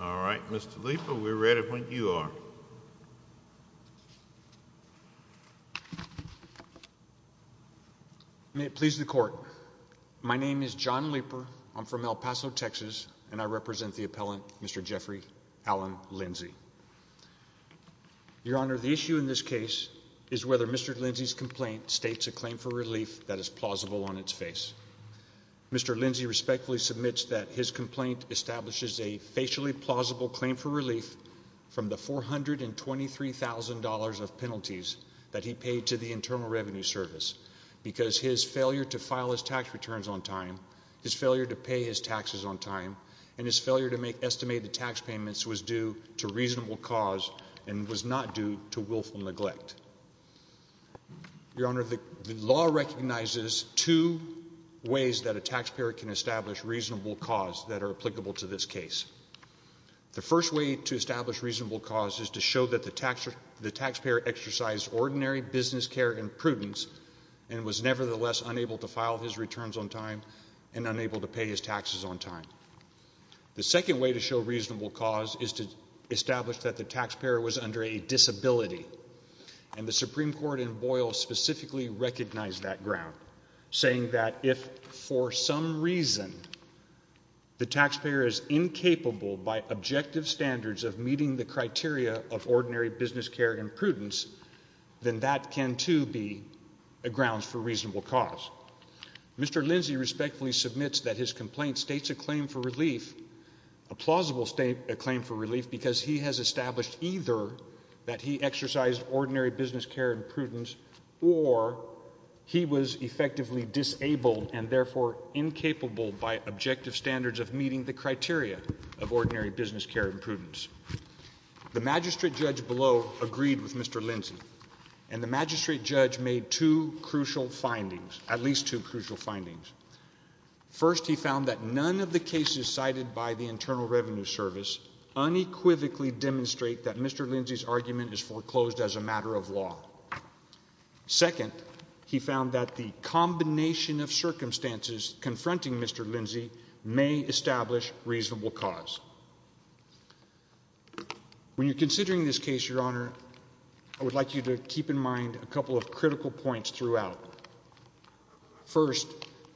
Alright, Mr. Leeper, we're ready when you are. May it please the court, my name is John Leeper, I'm from El Paso, Texas, and I represent the appellant, Mr. Jeffrey Allen Lindsay. Your Honor, the issue in this case is whether Mr. Lindsay's complaint states a claim for relief that is plausible on its face. Mr. Lindsay respectfully submits that his complaint establishes a facially plausible claim for relief from the $423,000 of penalties that he paid to the Internal Revenue Service because his failure to file his tax returns on time, his failure to pay his taxes on time, and his failure to make estimated tax payments was due to reasonable cause and was not due to willful neglect. Your Honor, the law recognizes two ways that a taxpayer can establish reasonable cause that are applicable to this case. The first way to establish reasonable cause is to show that the taxpayer exercised ordinary business care and prudence and was nevertheless unable to file his returns on time and unable to pay his taxes on time. The second way to show reasonable cause is to establish that the taxpayer was under a disability, and the Supreme Court in Boyle specifically recognized that ground, saying that if for some reason the taxpayer is incapable by objective standards of meeting the criteria of ordinary business care and prudence, then that can too be grounds for reasonable cause. Mr. Lindsay respectfully submits that his complaint states a claim for relief, a plausible claim for relief, because he has established either that he exercised ordinary business care and prudence or he was effectively disabled and therefore incapable by objective standards of meeting the criteria of ordinary business care and prudence. The magistrate judge below agreed with Mr. Lindsay, and the magistrate judge made two at least two crucial findings. First he found that none of the cases cited by the Internal Revenue Service unequivocally demonstrate that Mr. Lindsay's argument is foreclosed as a matter of law. Second, he found that the combination of circumstances confronting Mr. Lindsay may establish reasonable cause. When you're considering this case, Your Honor, I would like you to keep in mind a couple of critical points throughout. First,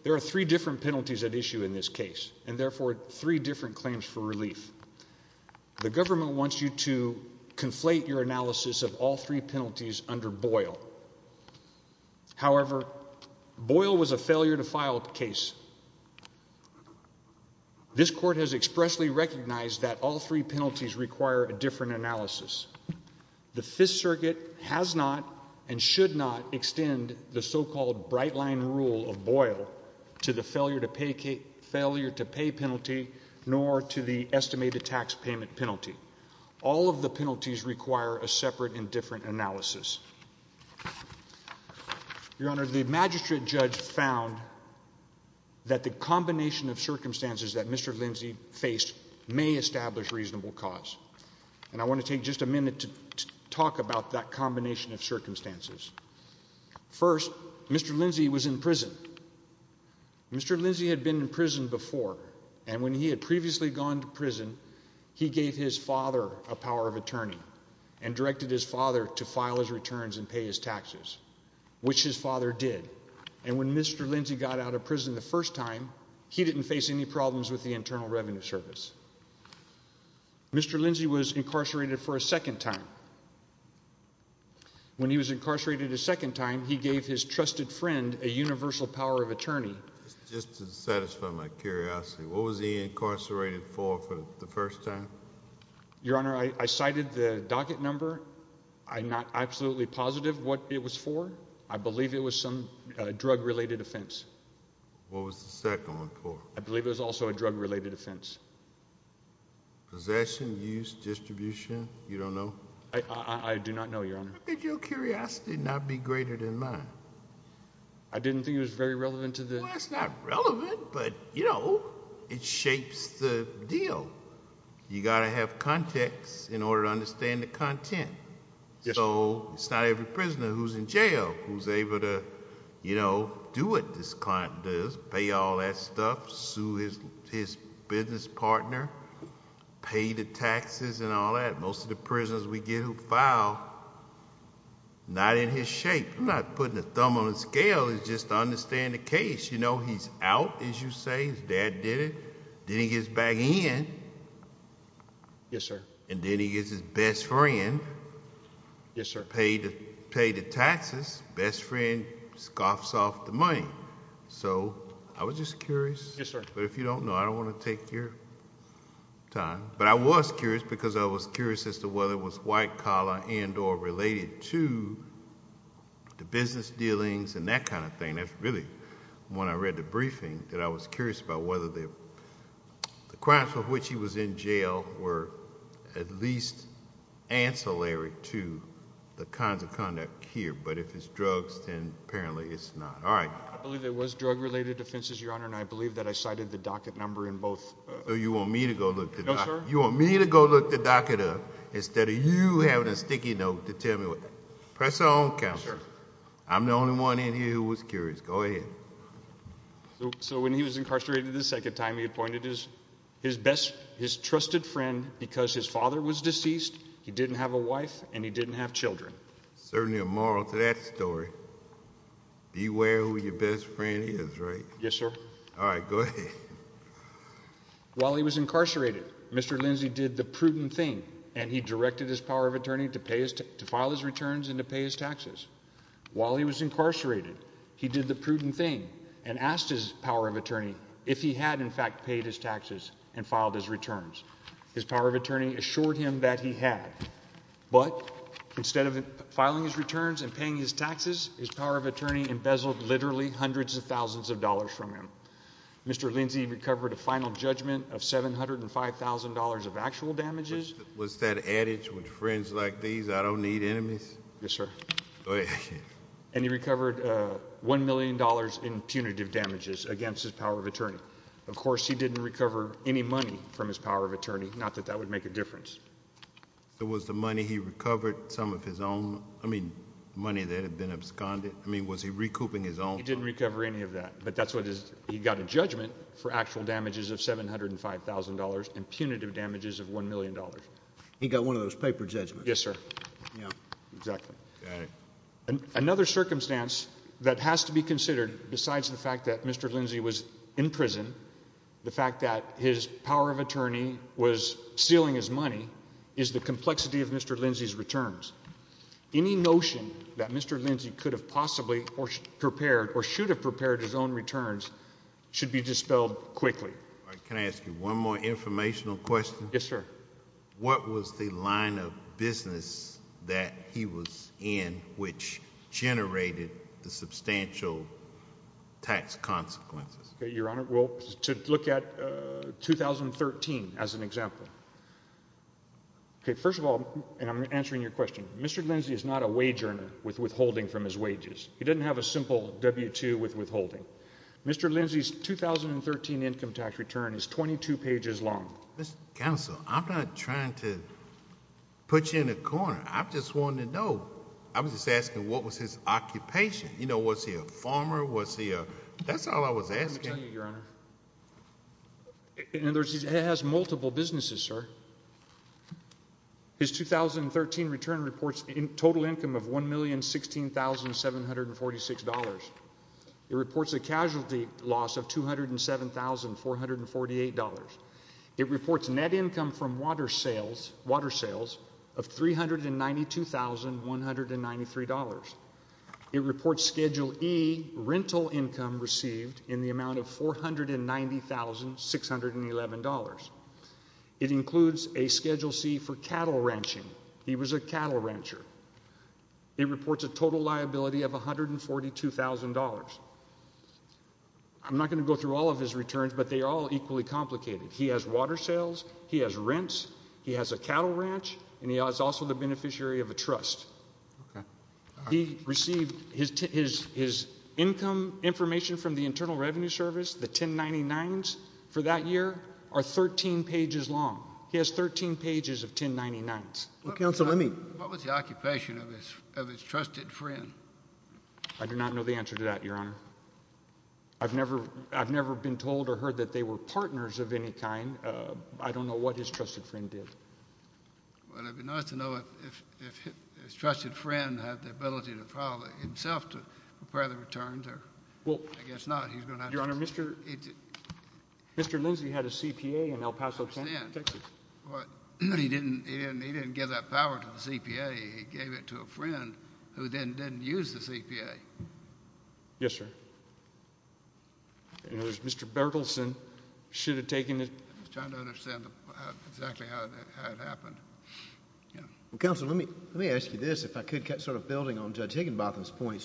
there are three different penalties at issue in this case, and therefore three different claims for relief. The government wants you to conflate your analysis of all three penalties under Boyle. However, Boyle was a failure to file case. This court has expressly recognized that all three penalties require a different analysis. The Fifth Circuit has not and should not extend the so-called bright-line rule of Boyle to the failure to pay penalty nor to the estimated tax payment penalty. All of the penalties require a separate and different analysis. Your Honor, the magistrate judge found that the combination of circumstances that Mr. Lindsay faced may establish reasonable cause. And I want to take just a minute to talk about that combination of circumstances. First, Mr. Lindsay was in prison. Mr. Lindsay had been in prison before, and when he had previously gone to prison, he gave his father a power of attorney and directed his father to file his returns and pay his taxes, which his father did. And when Mr. Lindsay got out of prison the first time, he didn't face any problems with the Internal Revenue Service. Mr. Lindsay was incarcerated for a second time. When he was incarcerated a second time, he gave his trusted friend a universal power of attorney. Just to satisfy my curiosity, what was he incarcerated for the first time? Your Honor, I cited the docket number. I'm not absolutely positive what it was for. I believe it was some drug-related offense. What was the second one for? I believe it was also a drug-related offense. Possession, use, distribution, you don't know? I do not know, Your Honor. Could your curiosity not be greater than mine? I didn't think it was very relevant to the... Well, it's not relevant, but, you know, it shapes the deal. You got to have context in order to understand the content. So it's not every prisoner who's in jail who's able to, you know, do what this client does, pay all that stuff, sue his business partner, pay the taxes and all that. Most of the prisoners we get who file, not in his shape. I'm not putting a thumb on the scale. It's just to understand the case. You know, he's out, as you say. His dad did it. Then he gets back in. Yes, sir. And then he gets his best friend... Yes, sir.... pay the taxes. Best friend scoffs off the money. So I was just curious. Yes, sir. But if you don't know, I don't want to take your time. But I was curious because I was curious as to whether it was white collar and or related to the business dealings and that kind of thing. That's really when I read the briefing that I was curious about whether the crimes of which he was in jail were at least ancillary to the kinds of conduct here. But if it's drugs, then apparently it's not. I believe it was drug-related offenses, Your Honor, and I believe that I cited the docket number in both. So you want me to go look the docket up instead of you having a sticky note to tell me what... Press on, Counselor. I'm the only one in here who was curious. Go ahead. So when he was incarcerated the second time, he appointed his best... his trusted friend because his father was deceased, he didn't have a wife, and he didn't have children. Certainly a moral to that story. Beware who your best friend is, right? Yes, sir. All right. Go ahead. While he was incarcerated, Mr. Lindsey did the prudent thing, and he directed his power of attorney to pay his... to file his returns and to pay his taxes. While he was incarcerated, he did the prudent thing and asked his power of attorney if he had in fact paid his taxes and filed his returns. His power of attorney assured him that he had. But instead of filing his returns and paying his taxes, his power of attorney embezzled literally hundreds of thousands of dollars from him. Mr. Lindsey recovered a final judgment of $705,000 of actual damages. Was that adage with friends like these, I don't need enemies? Yes, sir. Go ahead. And he recovered $1 million in punitive damages against his power of attorney. Of course, he didn't recover any money from his power of attorney, not that that would make a difference. So was the money he recovered some of his own... I mean, money that had been absconded. I mean, was he recouping his own... He didn't recover any of that, but that's what his... he got a judgment for actual damages of $705,000 and punitive damages of $1 million. He got one of those paper judgments. Yes, sir. Yeah. Exactly. Got it. Another circumstance that has to be considered besides the fact that Mr. Lindsey was in prison, the fact that his power of attorney was stealing his money, is the complexity of Mr. Lindsey's returns. Any notion that Mr. Lindsey could have possibly or should have prepared his own returns should be dispelled quickly. All right. Can I ask you one more informational question? Yes, sir. What was the line of business that he was in which generated the substantial tax consequences? Okay. Well, to look at 2013 as an example, okay, first of all, and I'm answering your question, Mr. Lindsey is not a wage earner with withholding from his wages. He doesn't have a simple W-2 with withholding. Mr. Lindsey's 2013 income tax return is 22 pages long. Mr. Counsel, I'm not trying to put you in a corner. I just wanted to know. I was just asking what was his occupation? You know, was he a farmer? Was he a... That's all I was asking. Well, let me tell you, Your Honor, he has multiple businesses, sir. His 2013 return reports a total income of $1,016,746. It reports a casualty loss of $207,448. It reports net income from water sales of $392,193. It reports Schedule E rental income received in the amount of $490,611. It includes a Schedule C for cattle ranching. He was a cattle rancher. It reports a total liability of $142,000. I'm not going to go through all of his returns, but they are all equally complicated. He has water sales. He has rents. He has a cattle ranch, and he is also the beneficiary of a trust. Okay. He received his income information from the Internal Revenue Service, the 1099s, for that year are 13 pages long. He has 13 pages of 1099s. Well, Counsel, let me... What was the occupation of his trusted friend? I do not know the answer to that, Your Honor. I've never been told or heard that they were partners of any kind. I don't know what his trusted friend did. Well, it would be nice to know if his trusted friend had the ability to file himself to prepare the returns, or I guess not. He's going to have to... Your Honor, Mr. Lindsey had a CPA in El Paso, Texas. But he didn't give that power to the CPA. He gave it to a friend who then didn't use the CPA. Yes, sir. In other words, Mr. Berkelson should have taken the... He's trying to understand exactly how it happened. Counsel, let me ask you this, if I could get sort of building on Judge Higginbotham's point.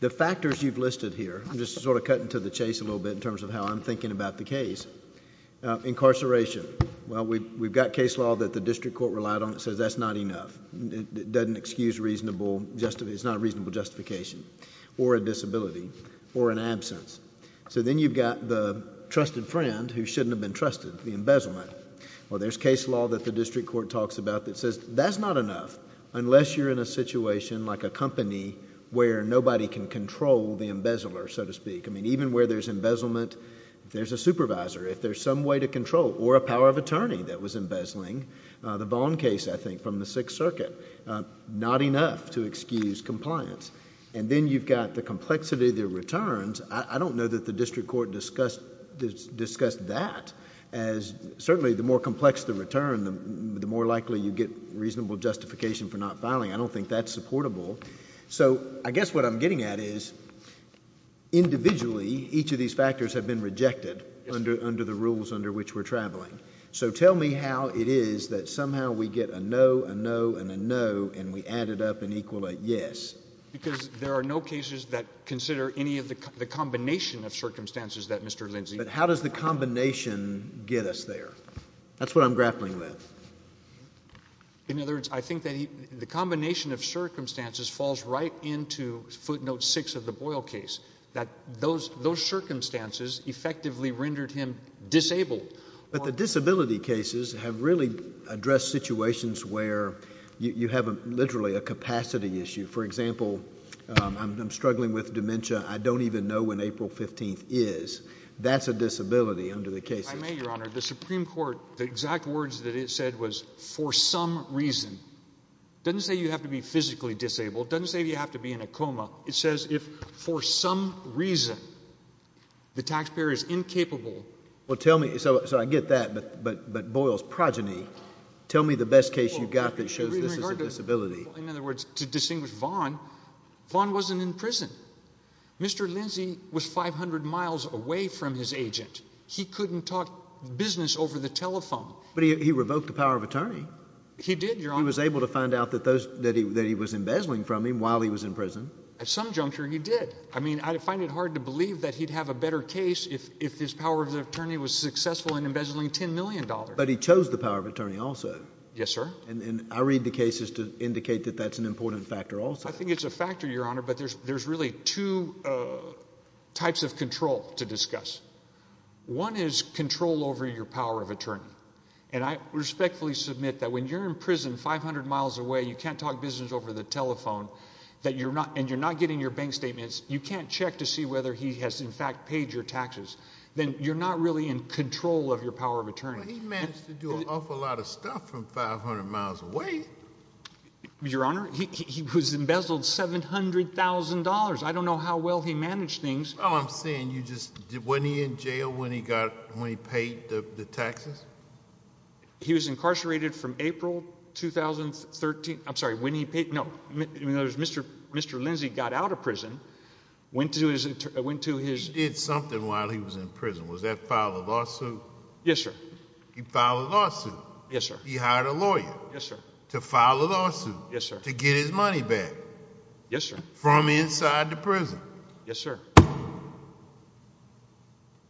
The factors you've listed here, I'm just sort of cutting to the chase a little bit in terms of how I'm thinking about the case. Incarceration. Well, we've got case law that the district court relied on that says that's not enough. It doesn't excuse reasonable... it's not a reasonable justification. Or a disability, or an absence. Then you've got the trusted friend who shouldn't have been trusted, the embezzlement. Well, there's case law that the district court talks about that says that's not enough unless you're in a situation like a company where nobody can control the embezzler, so to speak. I mean, even where there's embezzlement, if there's a supervisor, if there's some way to control, or a power of attorney that was embezzling. The Vaughn case, I think, from the Sixth Circuit. Not enough to excuse compliance. Then you've got the complexity of the returns. I don't know that the district court discussed that as... certainly the more complex the return, the more likely you get reasonable justification for not filing. I don't think that's supportable. I guess what I'm getting at is, individually, each of these factors have been rejected under the rules under which we're traveling. Tell me how it is that somehow we get a no, a no, and a no, and we add it up and equal a yes. Because there are no cases that consider any of the combination of circumstances that Mr. Lindsay... But how does the combination get us there? That's what I'm grappling with. In other words, I think that the combination of circumstances falls right into footnote six of the Boyle case, that those circumstances effectively rendered him disabled. But the disability cases have really addressed situations where you have literally a capacity issue. For example, I'm struggling with dementia. I don't even know when April 15th is. That's a disability under the cases. I may, Your Honor. The Supreme Court, the exact words that it said was, for some reason. It doesn't say you have to be physically disabled. It doesn't say you have to be in a coma. It says if for some reason the taxpayer is incapable... Well, tell me... so I get that, but Boyle's progeny, tell me the best case you've got that shows this is a disability. In other words, to distinguish Vaughn, Vaughn wasn't in prison. Mr. Lindsay was 500 miles away from his agent. He couldn't talk business over the telephone. But he revoked the power of attorney. He did, Your Honor. He was able to find out that he was embezzling from him while he was in prison. At some juncture, he did. I mean, I find it hard to believe that he'd have a better case if his power of attorney was successful in embezzling $10 million. But he chose the power of attorney also. Yes, sir. And I read the cases to indicate that that's an important factor also. I think it's a factor, Your Honor. But there's really two types of control to discuss. One is control over your power of attorney. And I respectfully submit that when you're in prison 500 miles away, you can't talk business over the telephone, and you're not getting your bank statements, you can't check to see whether he has, in fact, paid your taxes, then you're not really in control of your power of attorney. But he managed to do an awful lot of stuff from 500 miles away. Your Honor, he was embezzled $700,000. I don't know how well he managed things. All I'm saying, wasn't he in jail when he paid the taxes? He was incarcerated from April 2013. I'm sorry, when he paid? No. In other words, Mr. Lindsey got out of prison, went to his – He did something while he was in prison. Was that filed a lawsuit? Yes, sir. He filed a lawsuit? Yes, sir. He hired a lawyer? Yes, sir. To file a lawsuit? Yes, sir. To get his money back? Yes, sir. From inside the prison? Yes, sir.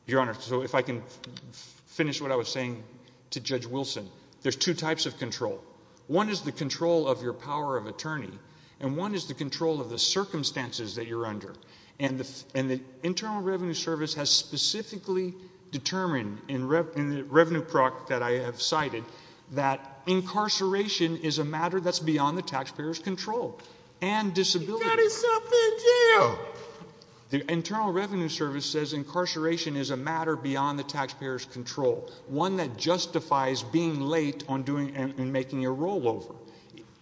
Your Honor, so if I can finish what I was saying to Judge Wilson, there's two types of control. One is the control of your power of attorney, and one is the control of the circumstances that you're under. And the Internal Revenue Service has specifically determined, in the revenue product that I have cited, that incarceration is a matter that's beyond the taxpayer's control and disability. He got himself in jail. The Internal Revenue Service says incarceration is a matter beyond the taxpayer's control, one that justifies being late and making a rollover.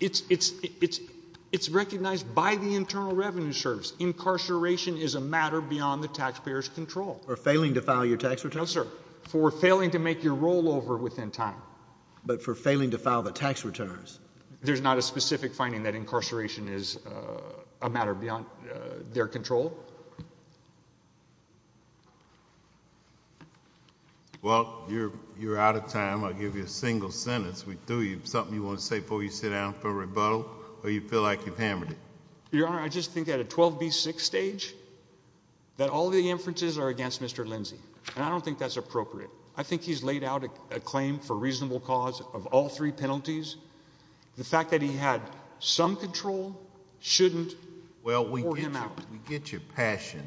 It's recognized by the Internal Revenue Service. Incarceration is a matter beyond the taxpayer's control. For failing to file your tax return? No, sir. For failing to make your rollover within time. But for failing to file the tax returns? There's not a specific finding that incarceration is a matter beyond their control. Well, you're out of time. I'll give you a single sentence. Do you have something you want to say before you sit down for a rebuttal, or do you feel like you've hammered it? Your Honor, I just think at a 12B6 stage, that all the inferences are against Mr. Lindsey, and I don't think that's appropriate. I think he's laid out a claim for reasonable cause of all three penalties. The fact that he had some control shouldn't bore him out. Well, we get your passion,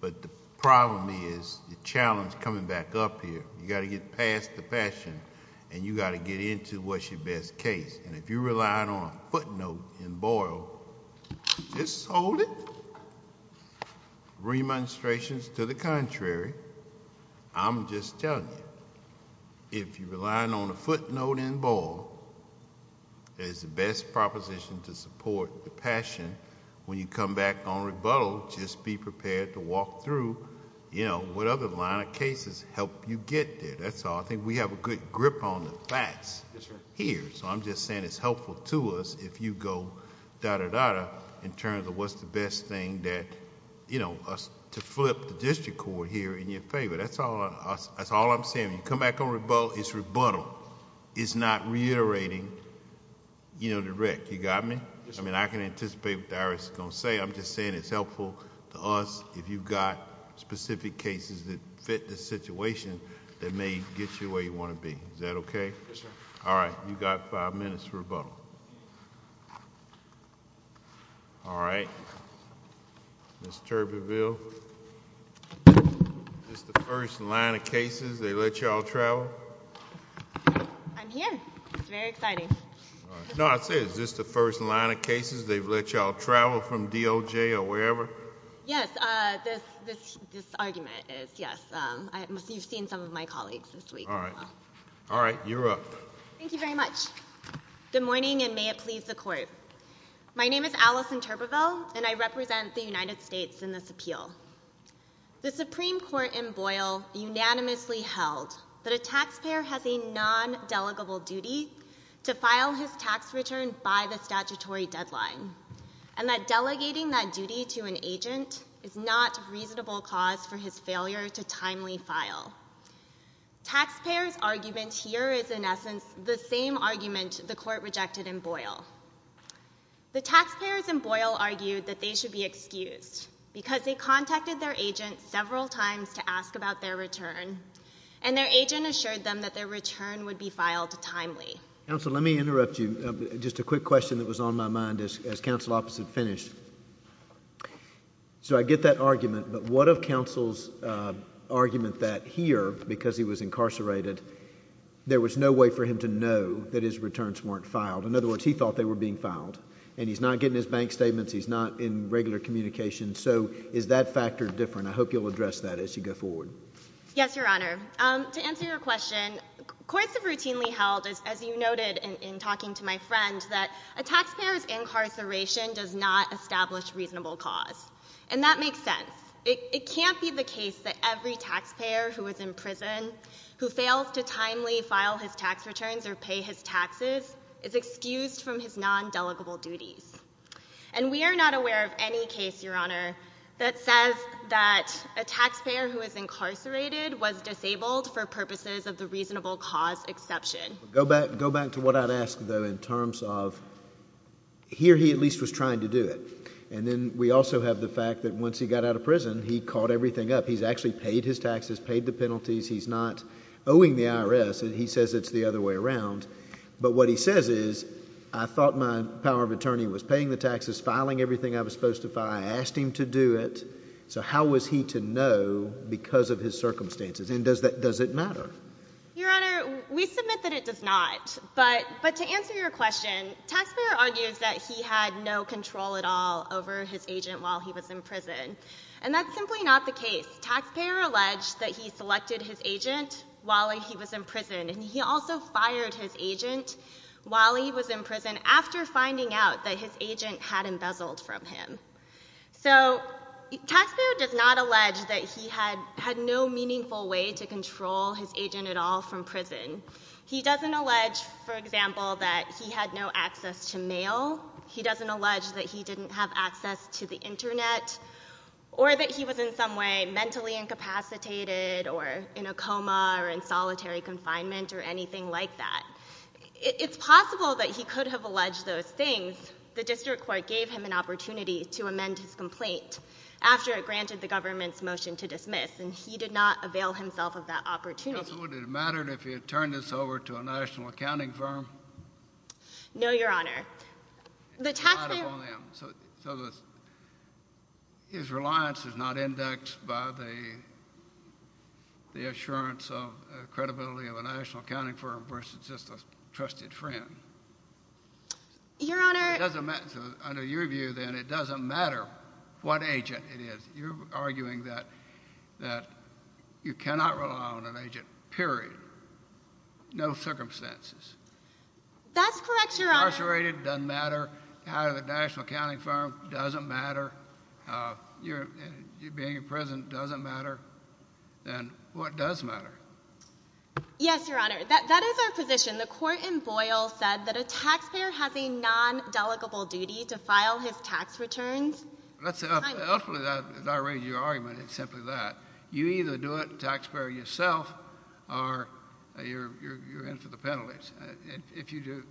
but the problem is the challenge coming back up here. You've got to get past the passion, and you've got to get into what's your best case. And if you're relying on a footnote in Boyle, just hold it. Remonstrations to the contrary, I'm just telling you, if you're relying on a footnote in Boyle as the best proposition to support the passion, when you come back on rebuttal, just be prepared to walk through, you know, what other line of cases help you get there. That's all. I think we have a good grip on the facts here, so I'm just saying it's helpful to us if you go da-da-da-da in terms of what's the best thing to flip the district court here in your favor. That's all I'm saying. When you come back on rebuttal, it's rebuttal. It's not reiterating, you know, the wreck. You got me? I mean, I can anticipate what the Irish is going to say. I'm just saying it's helpful to us if you've got specific cases that fit the situation that may get you where you want to be. Is that okay? Yes, sir. All right. You've got five minutes for rebuttal. All right. Ms. Turbeville, this is the first line of cases they let you all travel? I'm here. It's very exciting. No, I said is this the first line of cases they've let you all travel from DOJ or wherever? Yes, this argument is, yes. You've seen some of my colleagues this week as well. All right. You're up. Thank you very much. Good morning, and may it please the Court. My name is Allison Turbeville, and I represent the United States in this appeal. The Supreme Court in Boyle unanimously held that a taxpayer has a non-delegable duty to file his tax return by the statutory deadline, and that delegating that duty to an agent is not a reasonable cause for his failure to timely file. Taxpayers' argument here is, in essence, the same argument the Court rejected in Boyle. The taxpayers in Boyle argued that they should be excused because they contacted their agent several times to ask about their return, and their agent assured them that their return would be filed timely. Counsel, let me interrupt you. Just a quick question that was on my mind as counsel opposite finished. So I get that argument, but what of counsel's argument that here, because he was incarcerated, there was no way for him to know that his returns weren't filed? In other words, he thought they were being filed, and he's not getting his bank statements. He's not in regular communication. So is that factor different? I hope you'll address that as you go forward. Yes, Your Honor. To answer your question, courts have routinely held, as you noted in talking to my friend, that a taxpayer's incarceration does not establish reasonable cause, and that makes sense. It can't be the case that every taxpayer who is in prison who fails to timely file his tax returns or pay his taxes is excused from his non-delegable duties. And we are not aware of any case, Your Honor, that says that a taxpayer who is incarcerated was disabled for purposes of the reasonable cause exception. Go back to what I'd ask, though, in terms of here he at least was trying to do it. And then we also have the fact that once he got out of prison, he caught everything up. He's actually paid his taxes, paid the penalties. He's not owing the IRS, and he says it's the other way around. But what he says is, I thought my power of attorney was paying the taxes, filing everything I was supposed to file. I asked him to do it. So how was he to know because of his circumstances? And does it matter? Your Honor, we submit that it does not. But to answer your question, taxpayer argues that he had no control at all over his agent while he was in prison. And that's simply not the case. Taxpayer alleged that he selected his agent while he was in prison, and he also fired his agent while he was in prison after finding out that his agent had embezzled from him. So taxpayer does not allege that he had no meaningful way to control his agent at all from prison. He doesn't allege, for example, that he had no access to mail. He doesn't allege that he didn't have access to the Internet or that he was in some way mentally incapacitated or in a coma or in solitary confinement or anything like that. It's possible that he could have alleged those things. The district court gave him an opportunity to amend his complaint after it granted the government's motion to dismiss, and he did not avail himself of that opportunity. So would it have mattered if he had turned this over to a national accounting firm? No, Your Honor. So his reliance is not indexed by the assurance of credibility of a national accounting firm versus just a trusted friend. Your Honor. So under your view, then, it doesn't matter what agent it is. You're arguing that you cannot rely on an agent, period, no circumstances. That's correct, Your Honor. Being incarcerated doesn't matter. Having a national accounting firm doesn't matter. Being in prison doesn't matter. Then what does matter? Yes, Your Honor. That is our position. The court in Boyle said that a taxpayer has a non-delegable duty to file his tax returns. Ultimately, as I raise your argument, it's simply that. You either do it, taxpayer yourself, or you're in for the penalties. If you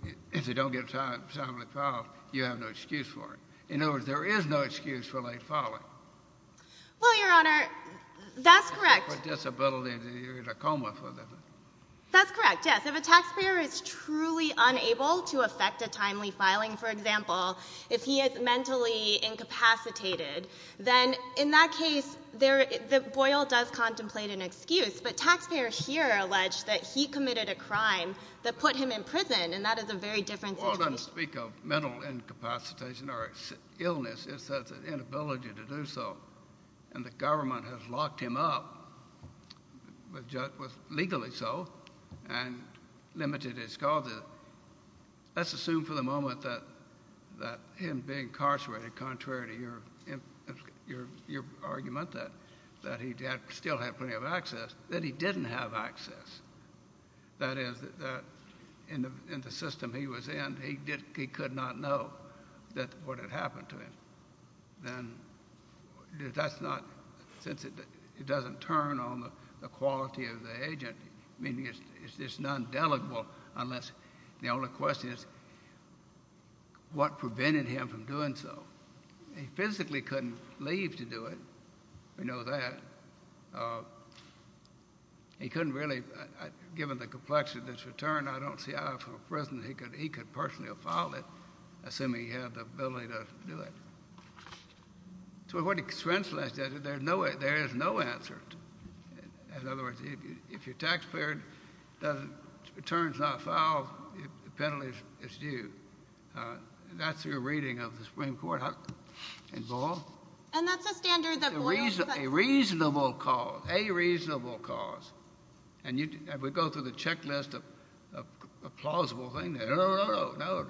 don't get a timely filing, you have no excuse for it. In other words, there is no excuse for late filing. Well, Your Honor, that's correct. If you have a disability, you're in a coma. That's correct, yes. If a taxpayer is truly unable to effect a timely filing, for example, if he is mentally incapacitated, then in that case, Boyle does contemplate an excuse. But taxpayers here allege that he committed a crime that put him in prison, and that is a very different situation. Well, I'm going to speak of mental incapacitation or illness. It's an inability to do so. And the government has locked him up, legally so, and limited his causes. Let's assume for the moment that him being incarcerated, contrary to your argument that he still had plenty of access, that he didn't have access. That is, in the system he was in, he could not know what had happened to him. Then that's not sensitive. It doesn't turn on the quality of the agent. I mean, it's non-delegable unless the only question is what prevented him from doing so. He physically couldn't leave to do it. We know that. He couldn't really. Given the complexity of this return, I don't see how from a prison he could personally have filed it, assuming he had the ability to do it. So what it translates to is there is no answer. In other words, if your taxpayer returns not filed, the penalty is due. That's your reading of the Supreme Court in Boyle. And that's a standard that Boyle has set. A reasonable cause, a reasonable cause. And we go through the checklist of a plausible thing. No, no, no, no, no.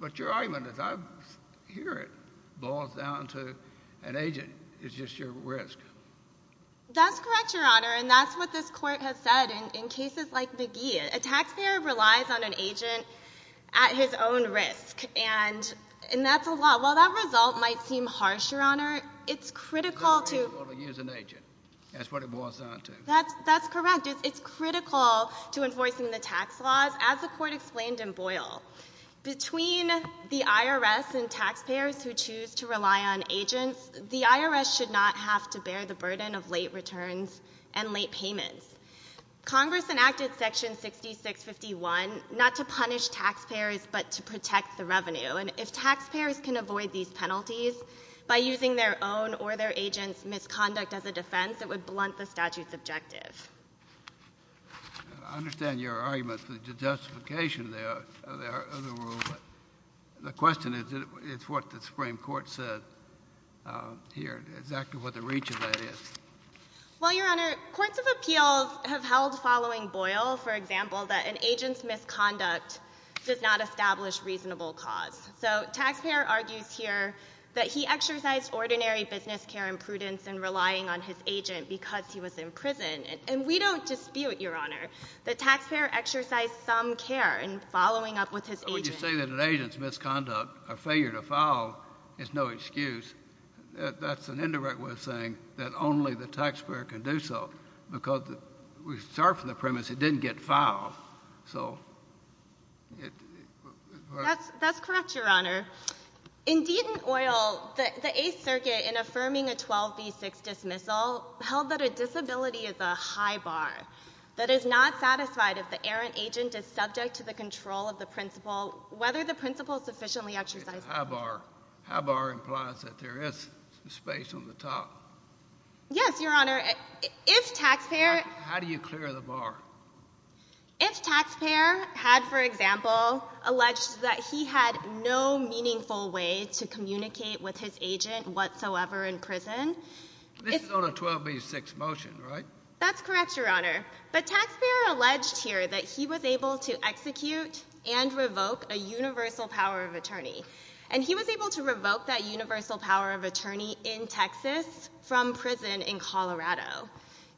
But your argument is I hear it boils down to an agent is just your risk. That's correct, Your Honor, and that's what this Court has said in cases like McGee. A taxpayer relies on an agent at his own risk, and that's a law. While that result might seem harsh, Your Honor, it's critical to ‑‑ It's not reasonable to use an agent. That's what it boils down to. That's correct. It's critical to enforcing the tax laws, as the Court explained in Boyle. Between the IRS and taxpayers who choose to rely on agents, the IRS should not have to bear the burden of late returns and late payments. Congress enacted Section 6651 not to punish taxpayers but to protect the revenue. And if taxpayers can avoid these penalties by using their own or their agent's misconduct as a defense, it would blunt the statute's objective. I understand your argument for the justification of the rule, but the question is what the Supreme Court said here, exactly what the reach of that is. Well, Your Honor, courts of appeals have held following Boyle, for example, that an agent's misconduct does not establish reasonable cause. So taxpayer argues here that he exercised ordinary business care and prudence in relying on his agent because he was in prison. And we don't dispute, Your Honor, that taxpayer exercised some care in following up with his agent. When you say that an agent's misconduct or failure to follow is no excuse, that's an indirect way of saying that only the taxpayer can do so because we start from the premise it didn't get filed. That's correct, Your Honor. Indeed in Boyle, the Eighth Circuit, in affirming a 12B6 dismissal, held that a disability is a high bar that is not satisfied if the errant agent is subject to the control of the principal whether the principal sufficiently exercised it. High bar implies that there is space on the top. Yes, Your Honor. If taxpayer... How do you clear the bar? If taxpayer had, for example, alleged that he had no meaningful way to communicate with his agent whatsoever in prison... This is on a 12B6 motion, right? That's correct, Your Honor. But taxpayer alleged here that he was able to execute and revoke a universal power of attorney. And he was able to revoke that universal power of attorney in Texas from prison in Colorado.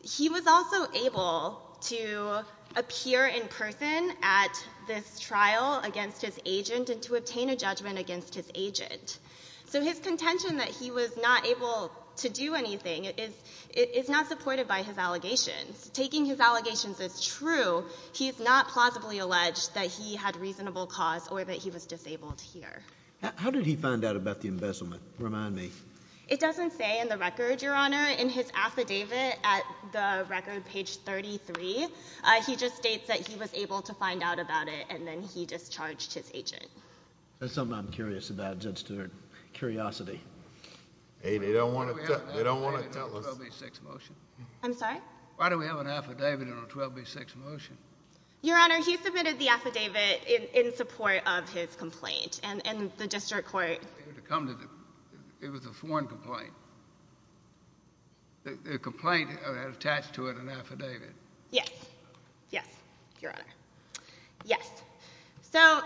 He was also able to appear in person at this trial against his agent and to obtain a judgment against his agent. So his contention that he was not able to do anything is not supported by his allegations. Taking his allegations as true, he's not plausibly alleged that he had reasonable cause or that he was disabled here. How did he find out about the embezzlement? Remind me. It doesn't say in the record, Your Honor. In his affidavit at the record, page 33, he just states that he was able to find out about it and then he discharged his agent. That's something I'm curious about, Judge Stewart. They don't want to tell us. Why do we have an affidavit in a 12B6 motion? I'm sorry? Why do we have an affidavit in a 12B6 motion? Your Honor, he submitted the affidavit in support of his complaint and the district court... It was a foreign complaint. The complaint attached to it an affidavit. Yes. Yes, Your Honor. Yes. So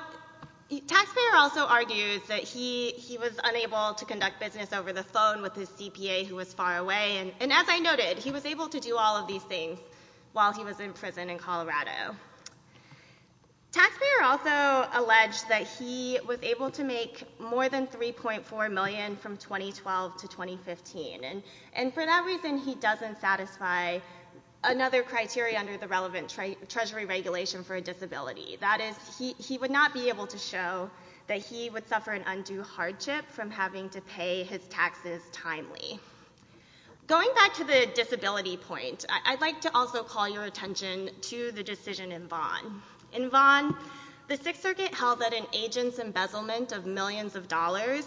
the taxpayer also argues that he was unable to conduct business over the phone with his CPA who was far away, and as I noted, he was able to do all of these things while he was in prison in Colorado. Taxpayer also alleged that he was able to make more than $3.4 million from 2012 to 2015, and for that reason, he doesn't satisfy another criteria under the relevant Treasury regulation for a disability. That is, he would not be able to show that he would suffer an undue hardship from having to pay his taxes timely. Going back to the disability point, I'd like to also call your attention to the decision in Vaughn. In Vaughn, the Sixth Circuit held that an agent's embezzlement of millions of dollars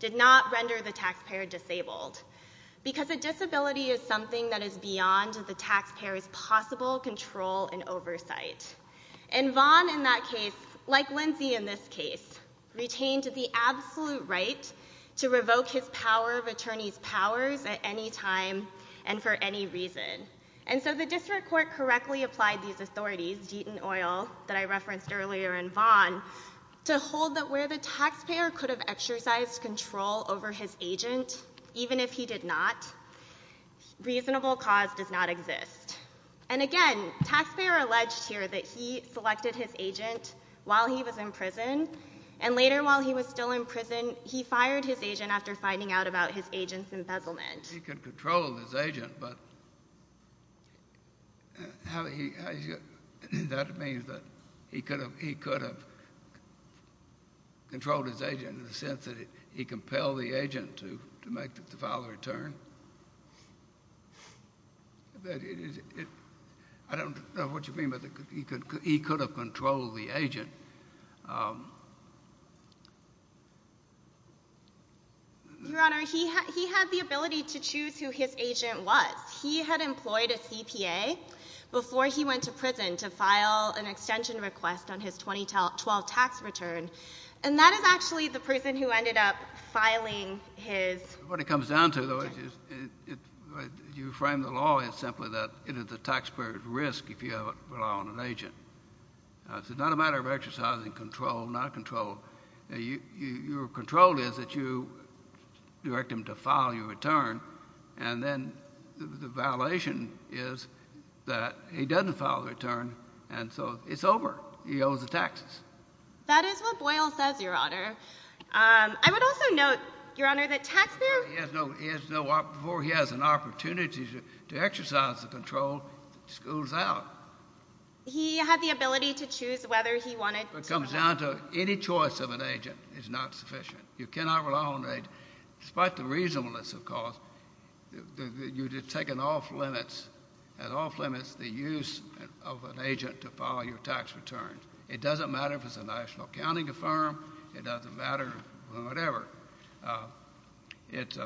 did not render the taxpayer disabled because a disability is something that is beyond the taxpayer's possible control and oversight. And Vaughn, in that case, like Lindsay in this case, retained the absolute right to revoke his power of attorney's powers at any time and for any reason. And so the district court correctly applied these authorities, Deaton, Oyl, that I referenced earlier, and Vaughn, to hold that where the taxpayer could have exercised control over his agent, even if he did not, reasonable cause does not exist. And again, taxpayer alleged here that he selected his agent while he was in prison, and later while he was still in prison, and he fired his agent after finding out about his agent's embezzlement. He could control his agent, but that means that he could have controlled his agent in the sense that he compelled the agent to file a return. I don't know what you mean, but he could have controlled the agent. Your Honor, he had the ability to choose who his agent was. He had employed a CPA before he went to prison to file an extension request on his 2012 tax return, and that is actually the person who ended up filing his... What it comes down to, though, is you frame the law as simply that it is the taxpayer's risk if you rely on an agent. It's not a matter of exercising control, not control. Your control is that you direct him to file your return, and then the violation is that he doesn't file the return, and so it's over. He owes the taxes. That is what Boyle says, Your Honor. I would also note, Your Honor, that taxpayer... He has no... Before he has an opportunity to exercise the control, the school's out. He had the ability to choose whether he wanted to... What comes down to any choice of an agent is not sufficient. You cannot rely on an agent, despite the reasonableness, of course. You're just taking off limits, and off limits the use of an agent to file your tax returns. It doesn't matter if it's a national accounting firm. It doesn't matter... Whatever. It's...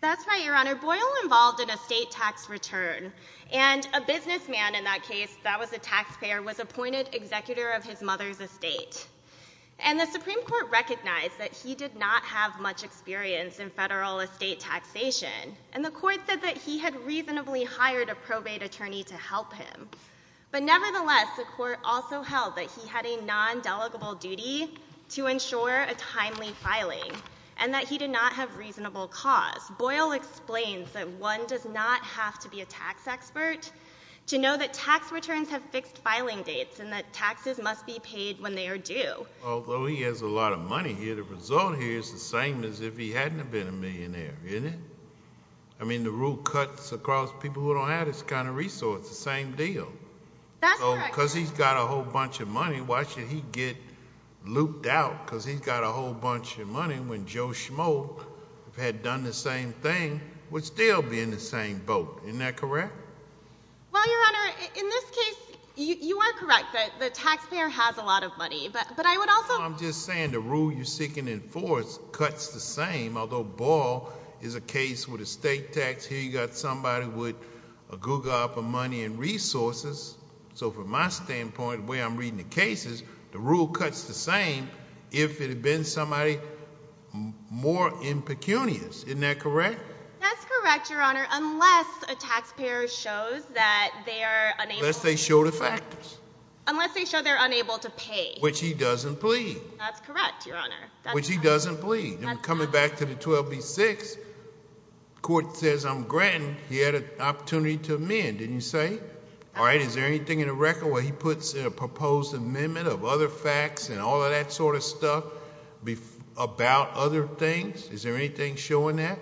That's right, Your Honor. Boyle involved in a state tax return, and a businessman in that case, that was a taxpayer, was appointed executor of his mother's estate. And the Supreme Court recognized that he did not have much experience in federal estate taxation, and the Court said that he had reasonably hired a probate attorney to help him. But nevertheless, the Court also held that he had a non-delegable duty to ensure a timely filing, and that he did not have reasonable cause. Boyle explains that one does not have to be a tax expert to know that tax returns have fixed filing dates, and that taxes must be paid when they are due. Although he has a lot of money here, the result here is the same as if he hadn't have been a millionaire, isn't it? I mean, the rule cuts across people who don't have this kind of resource. It's the same deal. That's correct. So because he's got a whole bunch of money, why should he get looped out? Because he's got a whole bunch of money when Joe Schmoe, if he had done the same thing, would still be in the same boat. Isn't that correct? Well, Your Honor, in this case, you are correct that the taxpayer has a lot of money, but I would also... No, I'm just saying the rule you're seeking in force cuts the same, although Boyle is a case with a state tax. Here you've got somebody with a googop of money and resources. So from my standpoint, the way I'm reading the case is the rule cuts the same if it had been somebody more impecunious. Isn't that correct? That's correct, Your Honor, unless a taxpayer shows that they are unable... Unless they show the factors. Unless they show they're unable to pay. Which he doesn't plead. That's correct, Your Honor. Which he doesn't plead. And coming back to the 12B6, the court says, I'm granting, he had an opportunity to amend, didn't you say? All right, is there anything in the record where he puts a proposed amendment of other facts and all of that sort of stuff about other things? Is there anything showing that?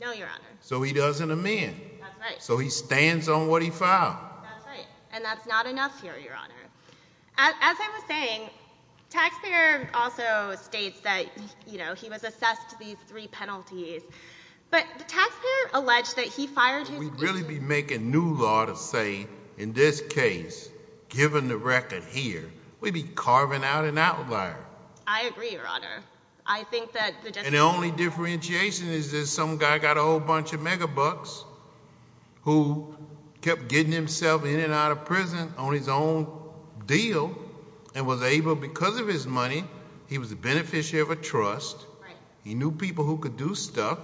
No, Your Honor. So he doesn't amend. That's right. So he stands on what he filed. That's right, and that's not enough here, Your Honor. As I was saying, taxpayer also states that, you know, he was assessed these three penalties. But the taxpayer alleged that he fired... We'd really be making new law to say, in this case, given the record here, we'd be carving out an outlier. I agree, Your Honor. I think that... And the only differentiation is that some guy got a whole bunch of megabucks who kept getting himself in and out of prison on his own deal and was able, because of his money, he was a beneficiary of a trust. He knew people who could do stuff.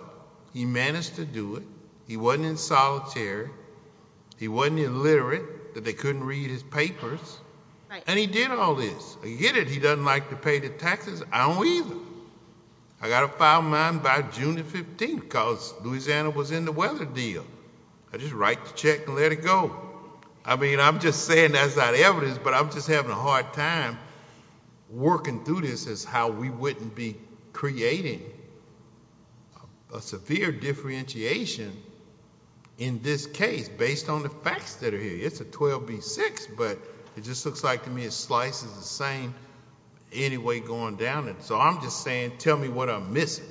He managed to do it. He wasn't in solitary. He wasn't illiterate, that they couldn't read his papers. And he did all this. I get it, he doesn't like to pay the taxes. I don't either. I got a file of mine by June the 15th because Louisiana was in the weather deal. I just write the check and let it go. I mean, I'm just saying that's not evidence, but I'm just having a hard time working through this as how we wouldn't be creating a severe differentiation in this case based on the facts that are here. It's a 12B6, but it just looks like to me it slices the same any way going down. So I'm just saying tell me what I'm missing.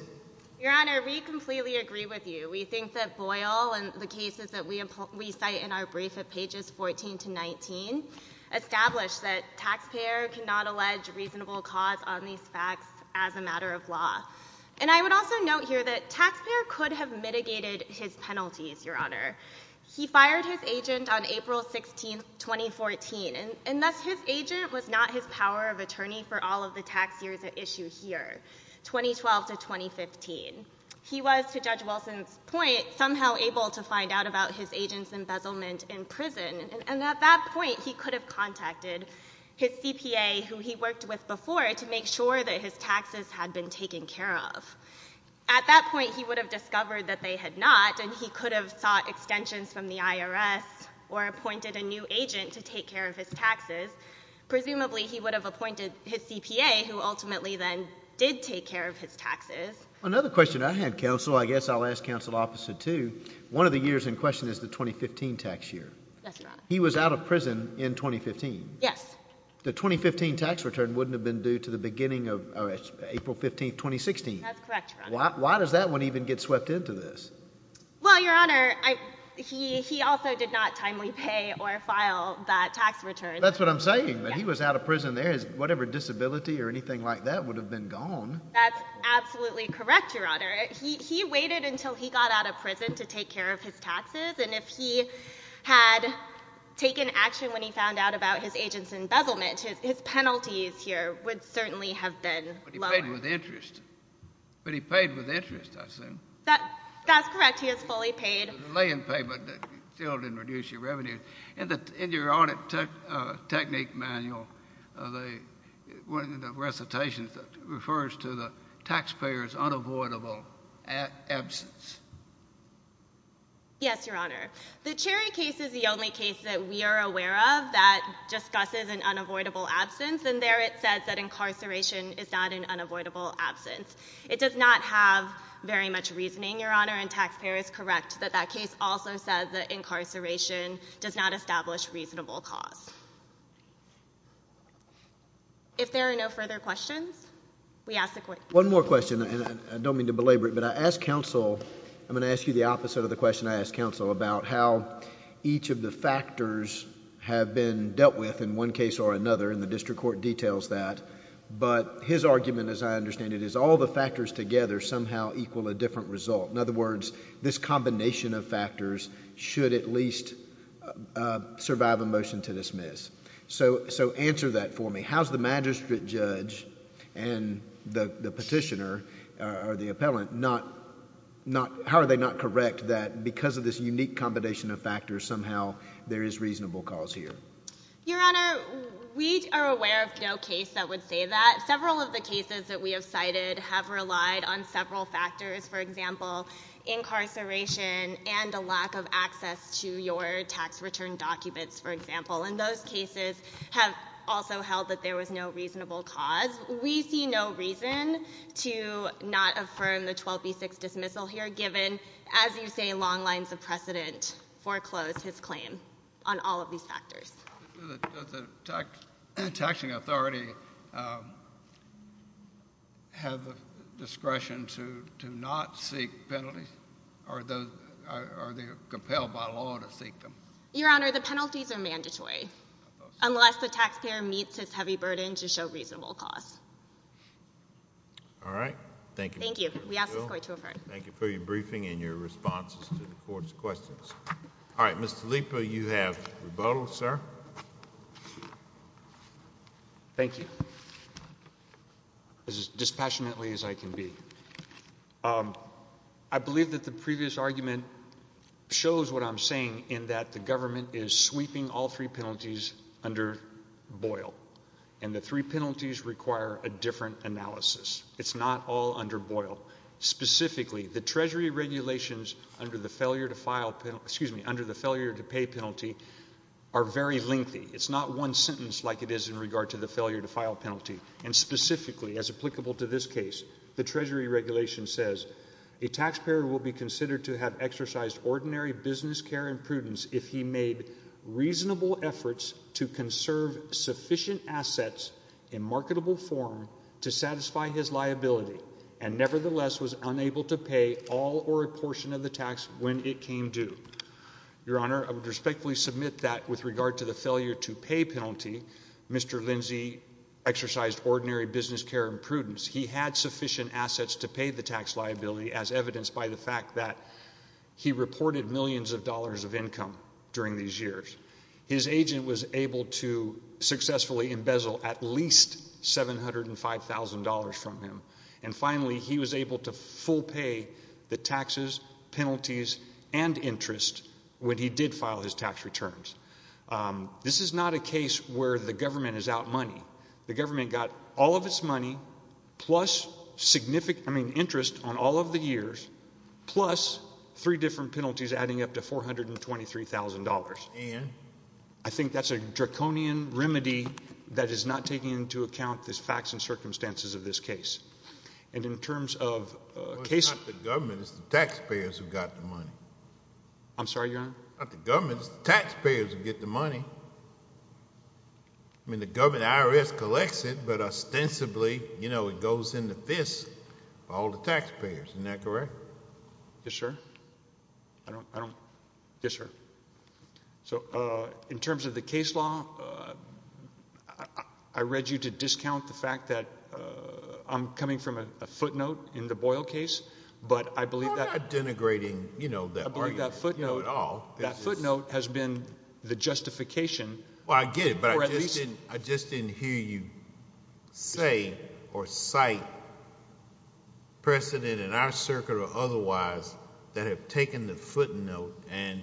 Your Honor, we completely agree with you. We think that Boyle and the cases that we cite in our brief at pages 14 to 19 establish that taxpayer cannot allege reasonable cause on these facts as a matter of law. And I would also note here that taxpayer could have mitigated his penalties, Your Honor. He fired his agent on April 16, 2014, and thus his agent was not his power of attorney for all of the tax years at issue here, 2012 to 2015. He was, to Judge Wilson's point, somehow able to find out about his agent's embezzlement in prison, and at that point he could have contacted his CPA who he worked with before to make sure that his taxes had been taken care of. At that point he would have discovered that they had not, and he could have sought extensions from the IRS or appointed a new agent to take care of his taxes. Presumably he would have appointed his CPA who ultimately then did take care of his taxes. Another question I had, Counsel, I guess I'll ask Counsel Officer, too. One of the years in question is the 2015 tax year. Yes, Your Honor. He was out of prison in 2015. Yes. The 2015 tax return wouldn't have been due to the beginning of April 15, 2016. That's correct, Your Honor. Why does that one even get swept into this? Well, Your Honor, he also did not timely pay or file that tax return. That's what I'm saying, that he was out of prison there. Whatever disability or anything like that would have been gone. That's absolutely correct, Your Honor. He waited until he got out of prison to take care of his taxes, and if he had taken action when he found out about his agent's embezzlement, his penalties here would certainly have been lower. But he paid with interest. But he paid with interest, I assume. That's correct. He was fully paid. Lay-in payment that still didn't reduce your revenue. In your audit technique manual, one of the recitations refers to the taxpayer's unavoidable absence. Yes, Your Honor. The Cherry case is the only case that we are aware of that discusses an unavoidable absence, and there it says that incarceration is not an unavoidable absence. It does not have very much reasoning, Your Honor, and taxpayer is correct that that case also says that incarceration does not establish reasonable cause. If there are no further questions, we ask the Court to close. One more question, and I don't mean to belabor it, but I'm going to ask you the opposite of the question I asked counsel about how each of the factors have been dealt with in one case or another, and the district court details that. But his argument, as I understand it, is all the factors together somehow equal a different result. In other words, this combination of factors should at least survive a motion to dismiss. So answer that for me. How's the magistrate judge and the petitioner or the appellant, how are they not correct that because of this unique combination of factors, somehow there is reasonable cause here? Your Honor, we are aware of no case that would say that. Several of the cases that we have cited have relied on several factors. For example, incarceration and a lack of access to your tax return documents, for example. And those cases have also held that there was no reasonable cause. We see no reason to not affirm the 12B6 dismissal here, given, as you say, long lines of precedent foreclosed his claim on all of these factors. Does the taxing authority have the discretion to not seek penalties, or are they compelled by law to seek them? Your Honor, the penalties are mandatory, unless the taxpayer meets its heavy burden to show reasonable cause. All right. Thank you. Thank you. We ask this Court to affirm. Thank you for your briefing and your responses to the Court's questions. All right. Mr. Lipa, you have rebuttal, sir. Thank you. As dispassionately as I can be. I believe that the previous argument shows what I'm saying, in that the government is sweeping all three penalties under Boyle, and the three penalties require a different analysis. It's not all under Boyle. Specifically, the Treasury regulations under the failure to pay penalty are very lengthy. It's not one sentence like it is in regard to the failure to file penalty. And specifically, as applicable to this case, the Treasury regulation says, a taxpayer will be considered to have exercised ordinary business care and prudence if he made reasonable efforts to conserve sufficient assets in marketable form to satisfy his liability, and nevertheless was unable to pay all or a portion of the tax when it came due. Your Honor, I would respectfully submit that, with regard to the failure to pay penalty, Mr. Lindsay exercised ordinary business care and prudence. He had sufficient assets to pay the tax liability, as evidenced by the fact that he reported millions of dollars of income during these years. His agent was able to successfully embezzle at least $705,000 from him. And finally, he was able to full pay the taxes, penalties, and interest when he did file his tax returns. This is not a case where the government is out money. The government got all of its money plus interest on all of the years plus three different penalties adding up to $423,000. And? I think that's a draconian remedy that is not taking into account the facts and circumstances of this case. And in terms of cases— Well, it's not the government. It's the taxpayers who got the money. I'm sorry, Your Honor? Not the government. It's the taxpayers who get the money. I mean, the IRS collects it, but ostensibly, you know, it goes in the fist of all the taxpayers. Isn't that correct? I don't—I don't— Yes, sir. So, in terms of the case law, I read you to discount the fact that I'm coming from a footnote in the Boyle case, but I believe that— We're not denigrating, you know, that argument at all. That footnote has been the justification— Well, I get it, but I just didn't hear you say or cite precedent in our circuit or otherwise that have taken the footnote and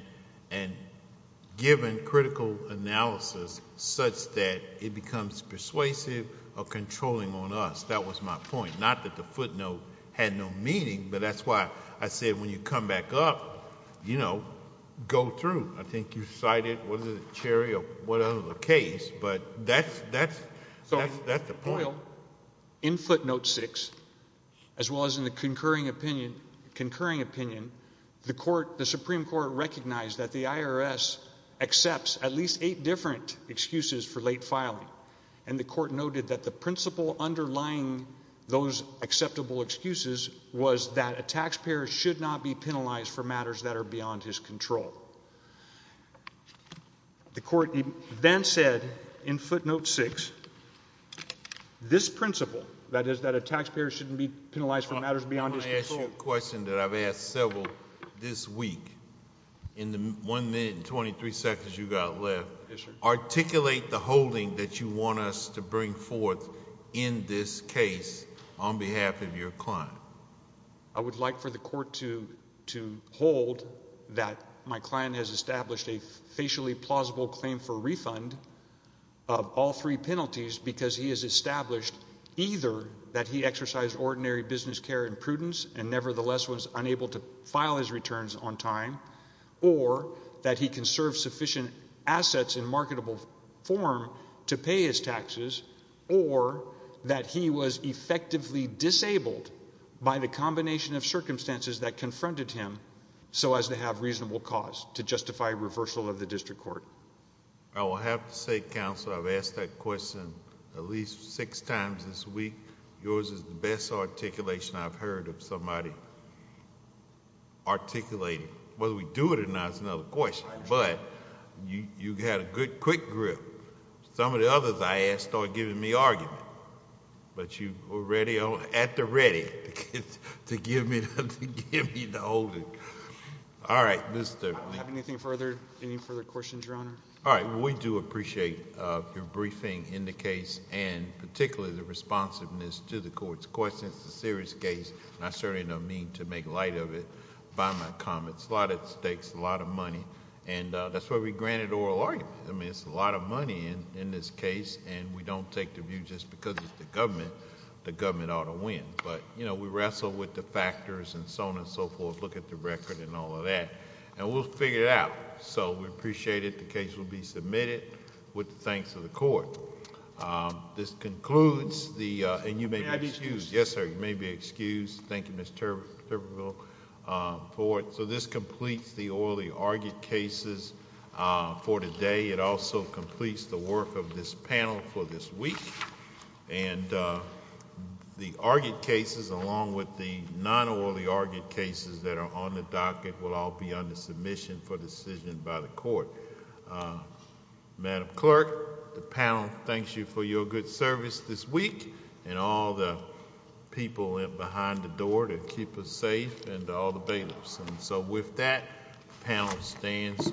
given critical analysis such that it becomes persuasive or controlling on us. That was my point. Not that the footnote had no meaning, but that's why I said when you come back up, you know, go through. I think you cited—was it Cherry or whatever the case, but that's the point. So, in Boyle, in footnote 6, as well as in the concurring opinion, the Supreme Court recognized that the IRS accepts at least eight different excuses for late filing, and the court noted that the principle underlying those acceptable excuses was that a taxpayer should not be penalized for matters that are beyond his control. The court then said in footnote 6, this principle, that is that a taxpayer shouldn't be penalized for matters beyond his control— I want to ask you a question that I've asked several this week. In the 1 minute and 23 seconds you've got left, articulate the holding that you want us to bring forth in this case on behalf of your client. I would like for the court to hold that my client has established a facially plausible claim for refund of all three penalties because he has established either that he exercised ordinary business care and prudence and nevertheless was unable to file his returns on time or that he conserved sufficient assets in marketable form to pay his taxes or that he was effectively disabled by the combination of circumstances that confronted him so as to have reasonable cause to justify reversal of the district court. I will have to say, counsel, I've asked that question at least six times this week. Yours is the best articulation I've heard of somebody articulating. Whether we do it or not is another question, but you had a good, quick grip. Some of the others I asked started giving me argument, but you were ready at the ready to give me the holding. All right, Mr. Lee. Do you have any further questions, Your Honor? All right. Well, we do appreciate your briefing in the case and particularly the responsiveness to the court's questions. It's a serious case, and I certainly don't mean to make light of it by my comments. It takes a lot of money, and that's why we granted oral argument. It's a lot of money in this case, and we don't take the view just because it's the government. The government ought to win, but we wrestle with the factors and so on and so forth, look at the record and all of that, and we'll figure it out. We appreciate it. The case will be submitted with the thanks of the court. This concludes the... Yes, sir. You may be excused. Thank you, Mr. Turbeville, for it. This completes the orally argued cases for today. It also completes the work of this panel for this week. The argued cases along with the non-orally argued cases that are on the docket will all be under submission for decision by the court. Madam Clerk, the panel thanks you for your good service this week and all the people that went behind the door to keep us safe and all the bailiffs. With that, the panel stands adjourned.